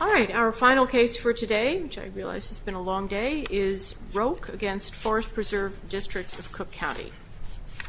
All right, our final case for today, which I realize has been a long day, is Roake against Forest Preserve District of Cook County.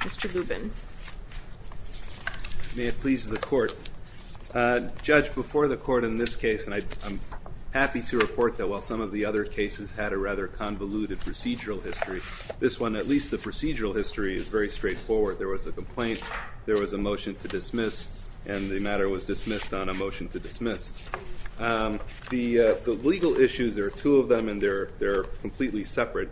Mr. Lubin. May it please the court. Judge, before the court in this case, and I'm happy to report that while some of the other cases had a rather convoluted procedural history, this one, at least the procedural history, is very straightforward. There was a complaint, there was a motion to dismiss, and the matter was dismissed on a motion to dismiss. The legal issues, there are two of them, and they're completely separate.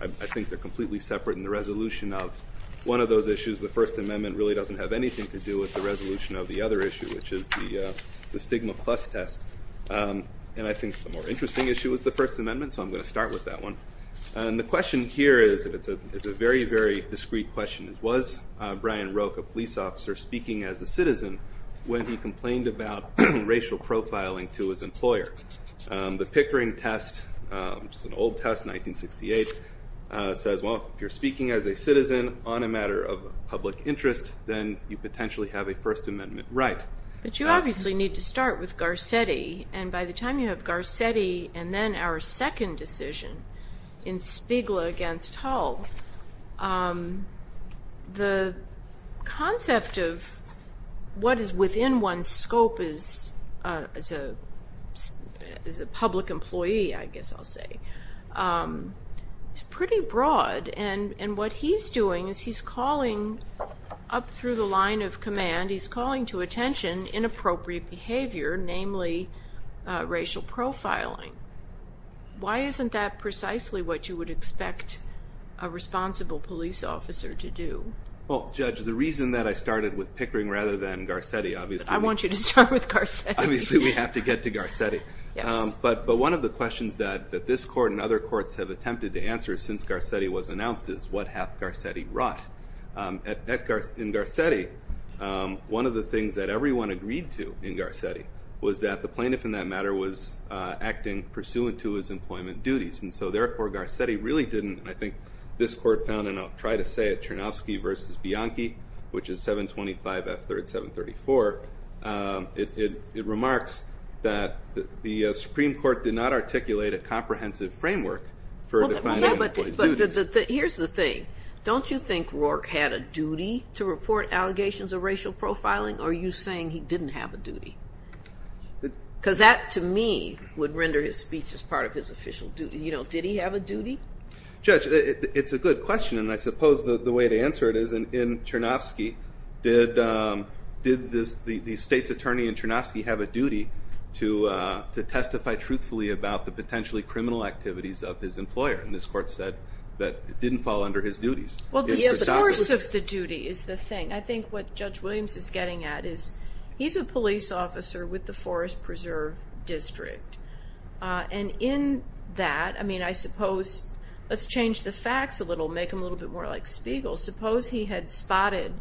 I think they're completely separate. And the resolution of one of those issues, the First Amendment, really doesn't have anything to do with the resolution of the other issue, which is the stigma plus test. And I think the more interesting issue was the First Amendment, so I'm going to start with that one. And the question here is a very, very discreet question. Was Brian Roake, a police officer, speaking as a citizen when he complained about racial profiling to his employer? The Pickering test, which is an old test, 1968, says, well, if you're speaking as a citizen on a matter of public interest, then you potentially have a First Amendment right. But you obviously need to start with Garcetti. And by the time you have Garcetti and then our second decision in Spiegel against Hull, the concept of what is within one's scope as a public employee, I guess I'll say, is pretty broad. And what he's doing is he's calling up through the line of command, he's calling to attention inappropriate behavior, namely racial profiling. Why isn't that precisely what you would expect a responsible police officer to do? Well, Judge, the reason that I started with Pickering rather than Garcetti, obviously. I want you to start with Garcetti. Obviously, we have to get to Garcetti. But one of the questions that this court and other courts have attempted to answer since Garcetti was announced is, what hath Garcetti wrought? In Garcetti, one of the things that everyone agreed to in Garcetti was that the plaintiff in that matter was acting pursuant to his employment duties. And so therefore, Garcetti really didn't. And I think this court found, and I'll try to say it, Chernofsky versus Bianchi, which is 725 F 3rd 734, it remarks that the Supreme Court did not articulate a comprehensive framework for defining employee duties. Here's the thing. Don't you think Rourke had a duty to report allegations of racial profiling? Or are you saying he didn't have a duty? Because that, to me, would render his speech as part of his official duty. You know, did he have a duty? Judge, it's a good question. And I suppose the way to answer it is, in Chernofsky, did the state's attorney in Chernofsky have a duty to testify truthfully about the potentially criminal activities of his employer? And this court said that it didn't fall under his duties. Well, the force of the duty is the thing. I think what Judge Williams is getting at is, he's a police officer with the Forest Preserve District. And in that, I mean, I suppose, let's change the facts a little, make him a little bit more like Spiegel. Suppose he had spotted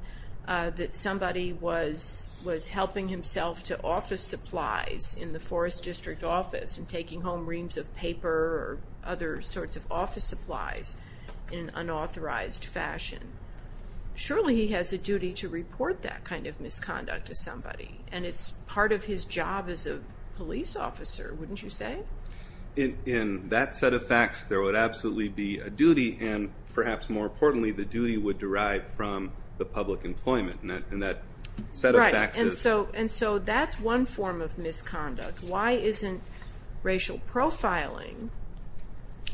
that somebody was helping himself to office supplies in the Forest District office and taking home reams of paper or other sorts of office supplies in an unauthorized fashion. Surely, he has a duty to report that kind of misconduct to somebody. And it's part of his job as a police officer, wouldn't you say? In that set of facts, there would absolutely be a duty. And perhaps more importantly, the duty would derive from the public employment. And that set of facts is. And so that's one form of misconduct. Why isn't racial profiling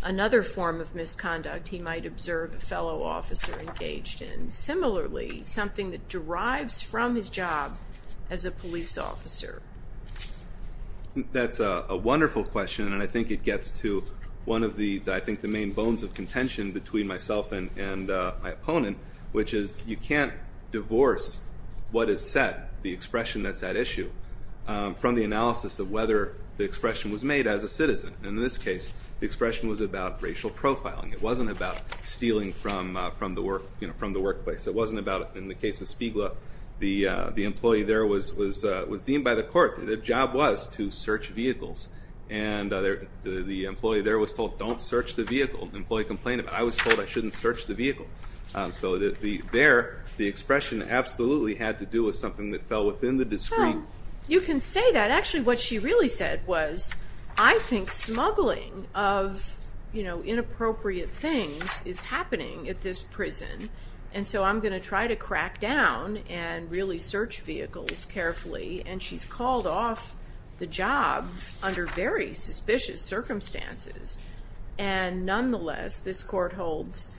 another form of misconduct he might observe a fellow officer engaged in? Similarly, something that derives from his job as a police officer. I think that's a wonderful question. And I think it gets to one of the main bones of contention between myself and my opponent, which is you can't divorce what is said, the expression that's at issue, from the analysis of whether the expression was made as a citizen. In this case, the expression was about racial profiling. It wasn't about stealing from the workplace. It wasn't about, in the case of Spiegel, the employee there was deemed by the court, the job was to search vehicles. And the employee there was told, don't search the vehicle. The employee complained about it. I was told I shouldn't search the vehicle. So there, the expression absolutely had to do with something that fell within the discreet. You can say that. Actually, what she really said was, I think smuggling of inappropriate things is happening at this prison. And so I'm going to try to crack down and really search vehicles carefully. And she's called off the job under very suspicious circumstances. And nonetheless, this court holds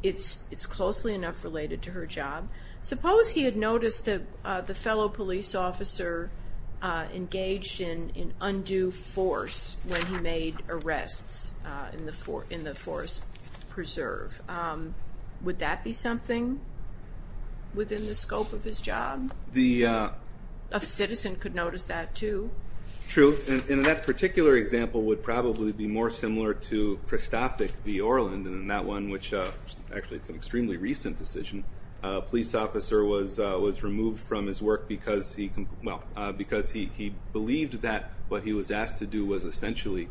it's closely enough related to her job. Suppose he had noticed that the fellow police officer engaged in undue force when he made arrests in the Forest Preserve. Would that be something within the scope of his job? The citizen could notice that, too. True. And that particular example would probably be more similar to Christophic v. Orland. And that one, which actually it's an extremely recent decision, a police officer was removed from his work because he believed that what he was asked to do was essentially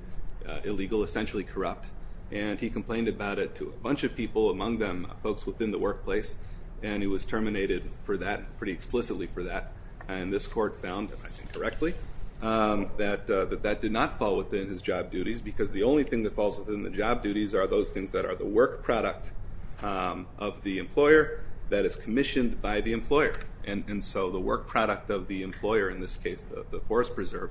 illegal, essentially corrupt. And he complained about it to a bunch of people, among them folks within the workplace. And he was terminated for that, pretty explicitly for that. And this court found, I think correctly, that that did not fall within his job duties. Because the only thing that falls within the job duties are those things that are the work product of the employer that is commissioned by the employer. And so the work product of the employer, in this case, the Forest Preserve,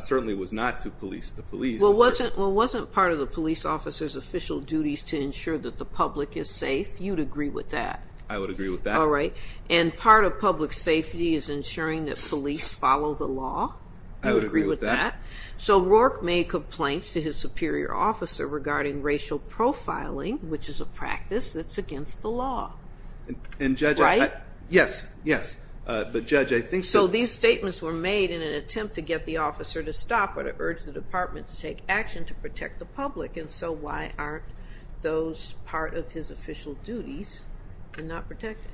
certainly was not to police the police. Well, it wasn't part of the police officer's official duties to ensure that the public is safe. You'd agree with that. I would agree with that. And part of public safety is ensuring that police follow the law. I would agree with that. So Rourke made complaints to his superior officer regarding racial profiling, which is a practice that's against the law. And Judge, I think. So these statements were made in an attempt to get the officer to stop or to urge the department to take action to protect the public. And so why aren't those part of his official duties and not protected?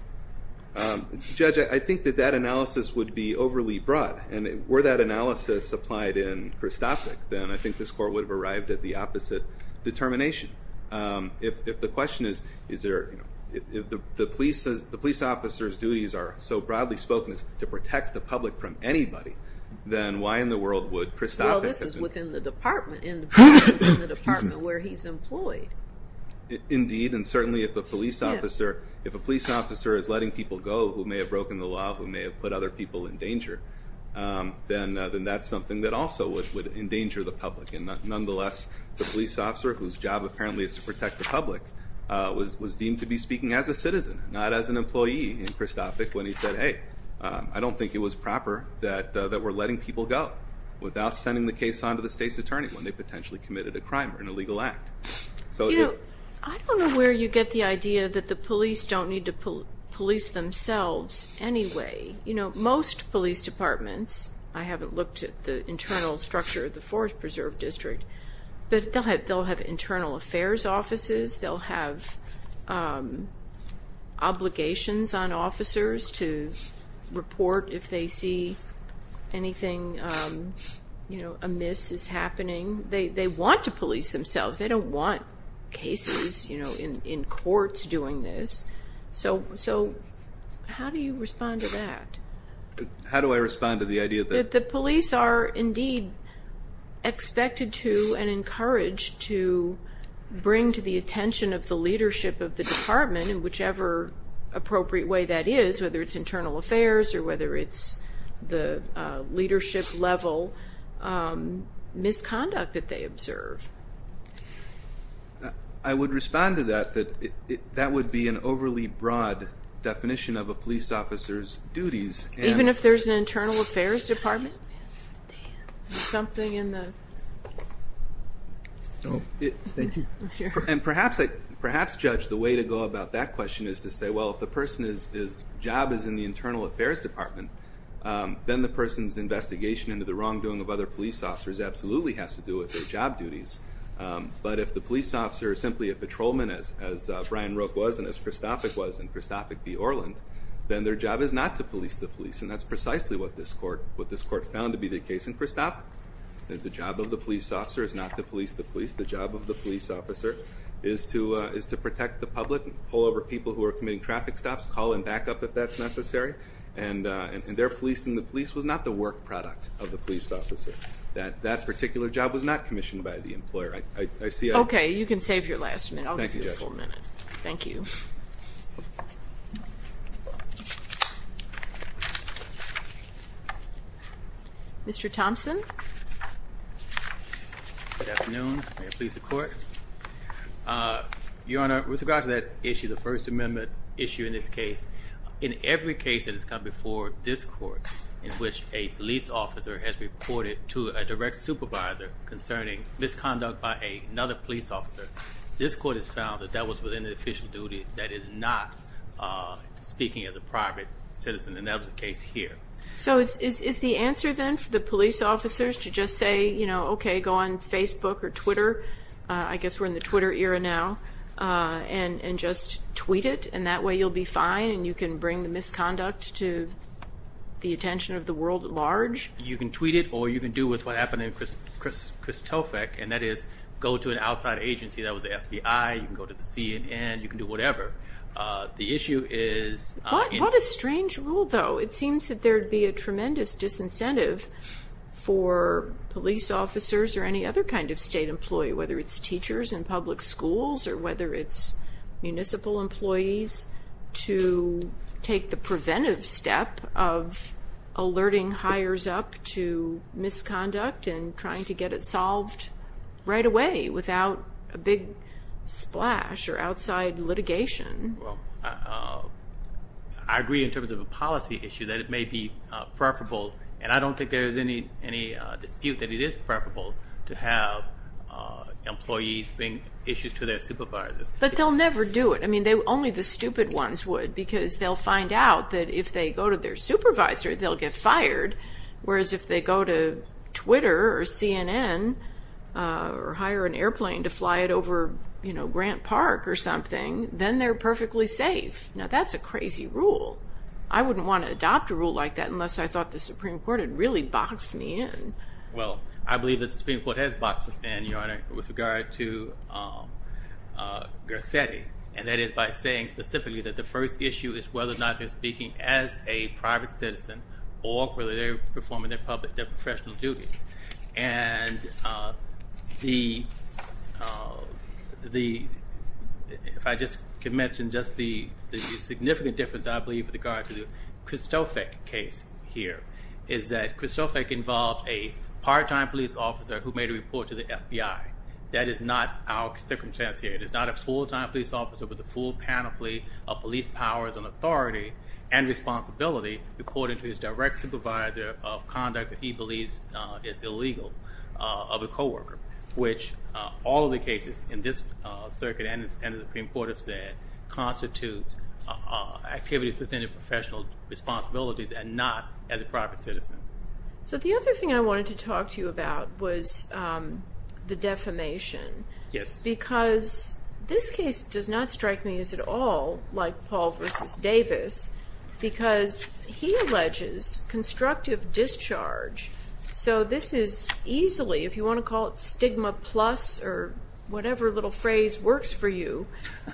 Judge, I think that that analysis would be overly broad. And were that analysis applied in Christoffick, then I think this court would have arrived at the opposite determination. If the question is, if the police officer's duties are so broadly spoken as to protect the public from anybody, then why in the world would Christoffick? Well, this is within the department, in the department where he's employed. Indeed, and certainly if a police officer is letting people go who may have broken the law, who may have put other people in danger, then that's something that also would endanger the public. And nonetheless, the police officer, whose job apparently is to protect the public, was deemed to be speaking as a citizen, not as an employee in Christoffick when he said, hey, I don't think it was proper that we're letting people go without sending the case on to the state's attorney when they potentially committed a crime or an illegal act. So I don't know where you get the idea that the police don't need to police themselves anyway. Most police departments, I haven't looked at the internal structure of the Forest Preserve District, but they'll have internal affairs offices. They'll have obligations on officers to report if they see anything amiss is happening. They want to police themselves. They don't want cases in courts doing this. So how do you respond to that? How do I respond to the idea that the police are indeed expected to and encouraged to bring to the attention of the leadership of the department, in whichever appropriate way that is, whether it's internal affairs or whether it's the leadership level misconduct that they observe? I would respond to that, that that would be an overly broad definition of a police officer's duties. Even if there's an internal affairs department? Something in the? Oh, thank you. And perhaps, Judge, the way to go about that question is to say, well, if the person's job is in the internal affairs department, then the person's investigation into the wrongdoing of other police officers absolutely has to do with their job duties. But if the police officer is simply a patrolman, as Brian Roke was and as Christophic was in Christophic v. Orland, then their job is not to police the police. And that's precisely what this court found to be the case in Christophic. The job of the police officer is not to police the police. The job of the police officer is to protect the public and pull over people who are committing traffic stops, call in backup if that's necessary. And their policing the police was not the work product of the police officer. That that particular job was not commissioned by the employer. OK, you can save your last minute. I'll give you a full minute. Mr. Thompson? Good afternoon. May it please the court. Your Honor, with regard to that issue, the First Amendment issue in this case, in every case that has come before this court in which a police officer has reported to a direct supervisor concerning misconduct by another police officer, this court has found that that was within the official duty that is not speaking as a private citizen. And that was the case here. So is the answer then for the police officers to just say, OK, go on Facebook or Twitter? I guess we're in the Twitter era now. And just tweet it, and that way you'll be fine and you can bring the misconduct to the attention of the world at large? You can tweet it, or you can do what happened in Kristofek, and that is go to an outside agency. That was the FBI. You can go to the CNN. You can do whatever. The issue is in- What a strange rule, though. It seems that there'd be a tremendous disincentive for police officers or any other kind of state employee, whether it's teachers in public schools or whether it's municipal employees, to take the preventive step of alerting hires up to misconduct and trying to get it solved right away without a big splash or outside litigation. I agree in terms of a policy issue that it may be preferable. And I don't think there's any dispute that it is preferable to have employees bring issues to their supervisors. But they'll never do it. I mean, only the stupid ones would, because they'll find out that if they go to their supervisor, they'll get fired, whereas if they go to Twitter or CNN or hire an airplane to fly it over Grant Park or something, then they're perfectly safe. Now, that's a crazy rule. I wouldn't want to adopt a rule like that because I thought the Supreme Court had really boxed me in. Well, I believe that the Supreme Court has boxed us in, Your Honor, with regard to Grissetti. And that is by saying specifically that the first issue is whether or not they're speaking as a private citizen or whether they're performing their professional duties. And if I just could mention just the significant difference, I believe, with regard to the Krzysztofek case here, is that Krzysztofek involved a part-time police officer who made a report to the FBI. That is not our circumstance here. It is not a full-time police officer with the full panoply of police powers and authority and responsibility reporting to his direct supervisor of conduct that he believes is illegal of a coworker, which all of the cases in this circuit and the Supreme Court have said constitutes activities within their professional responsibilities and not as a private citizen. So the other thing I wanted to talk to you about was the defamation. Yes. Because this case does not strike me as at all like Paul v. Davis because he alleges constructive discharge. So this is easily, if you want to call it stigma plus or whatever little phrase works for you,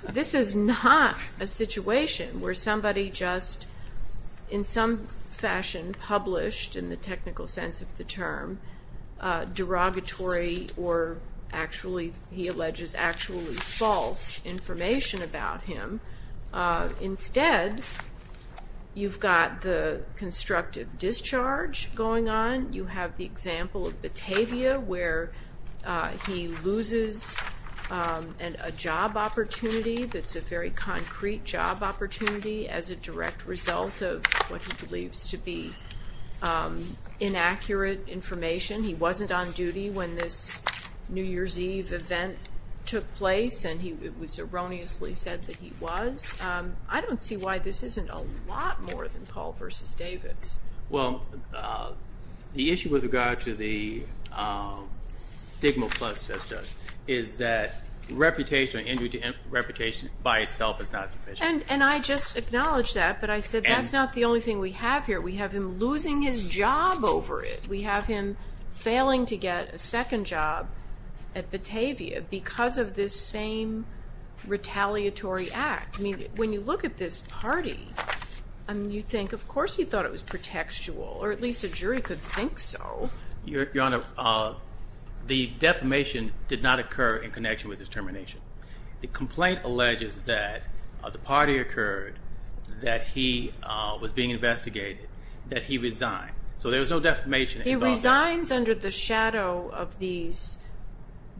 this is not a situation where somebody just, in some fashion, published, in the technical sense of the term, derogatory or actually, he alleges actually false information about him. Instead, you've got the constructive discharge going on. You have the example of Batavia where he loses a job opportunity that's a very concrete job opportunity as a direct result of what he believes to be inaccurate information. He wasn't on duty when this New Year's Eve event took place and it was erroneously said that he was. I don't see why this isn't a lot more than Paul v. Davis. Well, the issue with regard to the stigma plus, is that reputation by itself is not sufficient. And I just acknowledge that, but I said that's not the only thing we have here. We have him losing his job over it. We have him failing to get a second job at Batavia because of this same retaliatory act. I mean, when you look at this party, you think, of course he thought it was pretextual, or at least a jury could think so. Your Honor, the defamation did not occur in connection with his termination. The complaint alleges that the party occurred, that he was being investigated, that he resigned. So there was no defamation involved. He resigns under the shadow of these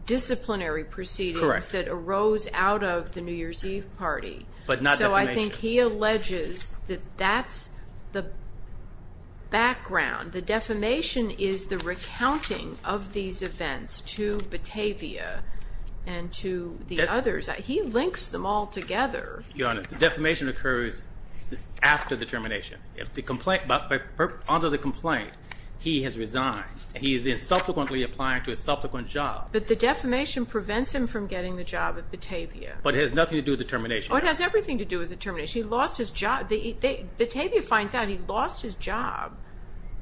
disciplinary proceedings that arose out of the New Year's Eve party. But not defamation. So I think he alleges that that's the background. The defamation is the recounting of these events to Batavia and to the others. He links them all together. Your Honor, the defamation occurs after the termination. Under the complaint, he has resigned. He is subsequently applying to a subsequent job. But the defamation prevents him from getting the job at Batavia. But it has nothing to do with the termination. Or it has everything to do with the termination. He lost his job. Batavia finds out he lost his job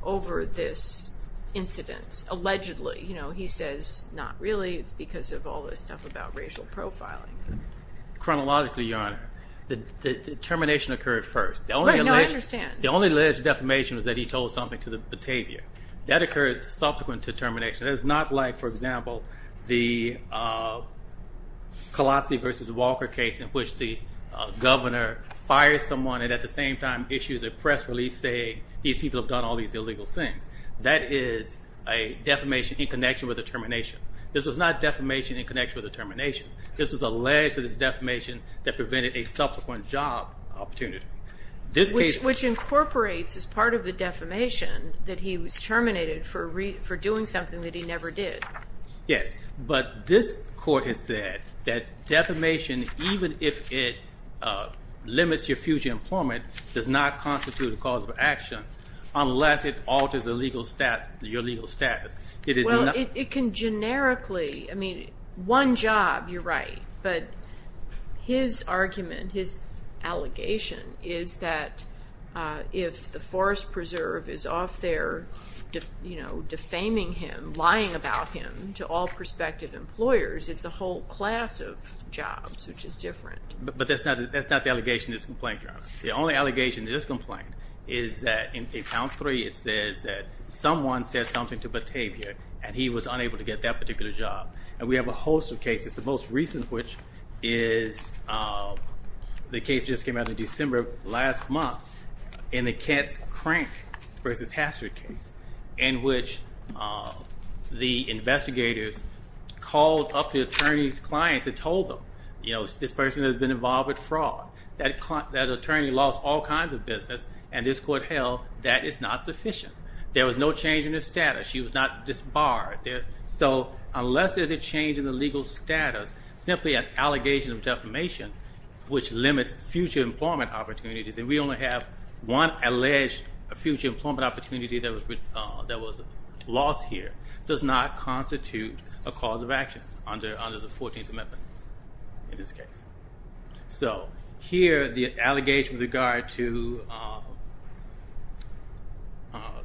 over this incident, allegedly. He says, not really. It's because of all this stuff about racial profiling. Chronologically, Your Honor, the termination occurred first. Right, now I understand. The only alleged defamation was that he told something to Batavia. That occurs subsequent to termination. It is not like, for example, the Colazzi versus Walker case in which the governor fires someone and at the same time issues a press release saying these people have done all these illegal things. That is a defamation in connection with the termination. This was not defamation in connection with the termination. This is alleged that it's defamation that prevented a subsequent job opportunity. Which incorporates as part of the defamation that he was terminated for doing something that he never did. Yes, but this court has said that defamation even if it limits your future employment does not constitute a cause for action unless it alters your legal status. Well, it can generically. I mean, one job, you're right. But his argument, his allegation, is that if the Forest Preserve is off there defaming him, lying about him to all prospective employers, it's a whole class of jobs which is different. But that's not the allegation in this complaint, Your Honor. The only allegation in this complaint is that in Account 3 it says that someone said something to Batavia and he was unable to get that particular job. And we have a host of cases, the most recent of which is the case that just came out in December last month in the Katz-Crank versus Hastert case in which the investigators called up the attorney's clients and told them, you know, this person has been involved with fraud. That attorney lost all kinds of business and this court held that it's not sufficient. There was no change in her status. She was not disbarred. So unless there's a change in the legal status, simply an allegation of defamation which limits future employment opportunities, and we only have one alleged future employment opportunity that was lost here, does not constitute a cause of action under the Fourteenth Amendment in this case. So here the allegation with regard to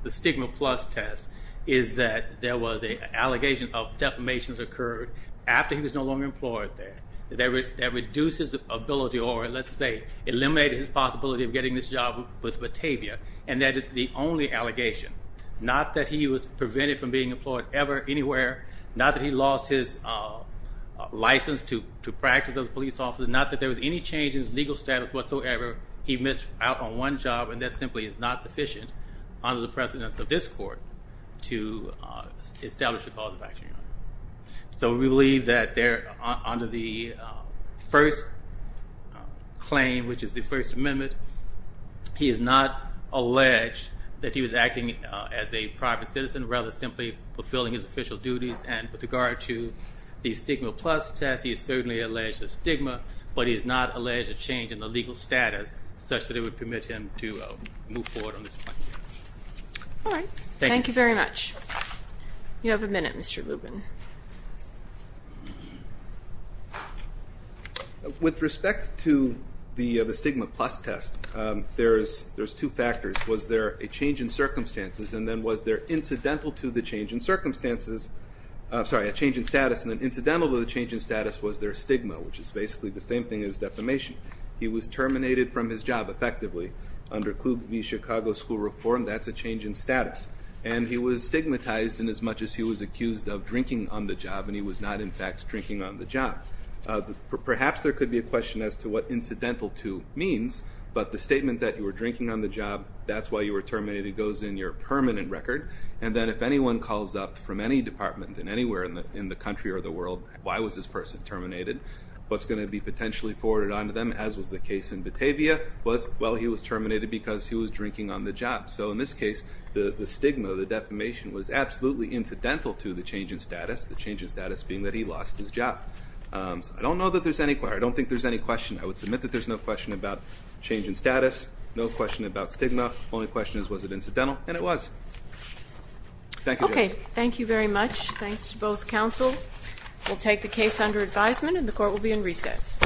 the Stigma Plus test is that there was an allegation of defamation that occurred after he was no longer employed there that reduces ability or, let's say, eliminated his possibility of getting this job with Batavia and that is the only allegation. Not that he was prevented from being employed ever, anywhere. Not that he lost his license to practice as a police officer. Not that there was any change in his legal status whatsoever. He missed out on one job and that simply is not sufficient under the precedence of this court to establish a cause of action. So we believe that under the first claim, which is the First Amendment, he is not alleged that he was acting as a private citizen rather than simply fulfilling his official duties and with regard to the Stigma Plus test, he is certainly alleged of stigma, but he is not alleged of change in the legal status such that it would permit him to move forward on this claim. All right. Thank you very much. You have a minute, Mr. Lubin. With respect to the Stigma Plus test, there's two factors. Was there a change in circumstances and then was there incidental to the change in circumstances? Sorry, a change in status and then incidental to the change in status was their stigma, which is basically the same thing as defamation. He was terminated from his job effectively under Kluge v. Chicago School Reform. That's a change in status. And he was stigmatized inasmuch as he was accused of drinking on the job, and he was not, in fact, drinking on the job. Perhaps there could be a question as to what incidental to means, but the statement that you were drinking on the job, that's why you were terminated, goes in your permanent record. And then if anyone calls up from any department in anywhere in the country or the world, why was this person terminated? What's going to be potentially forwarded on to them, as was the case in Batavia, was, well, he was terminated because he was drinking on the job. So in this case, the stigma, the defamation, was absolutely incidental to the change in status, the change in status being that he lost his job. I don't know that there's any... I don't think there's any question. I would submit that there's no question about change in status, no question about stigma. The only question is, was it incidental? And it was. Thank you, Judge. Okay, thank you very much. Thanks to both counsel. We'll take the case under advisement, and the court will be in recess.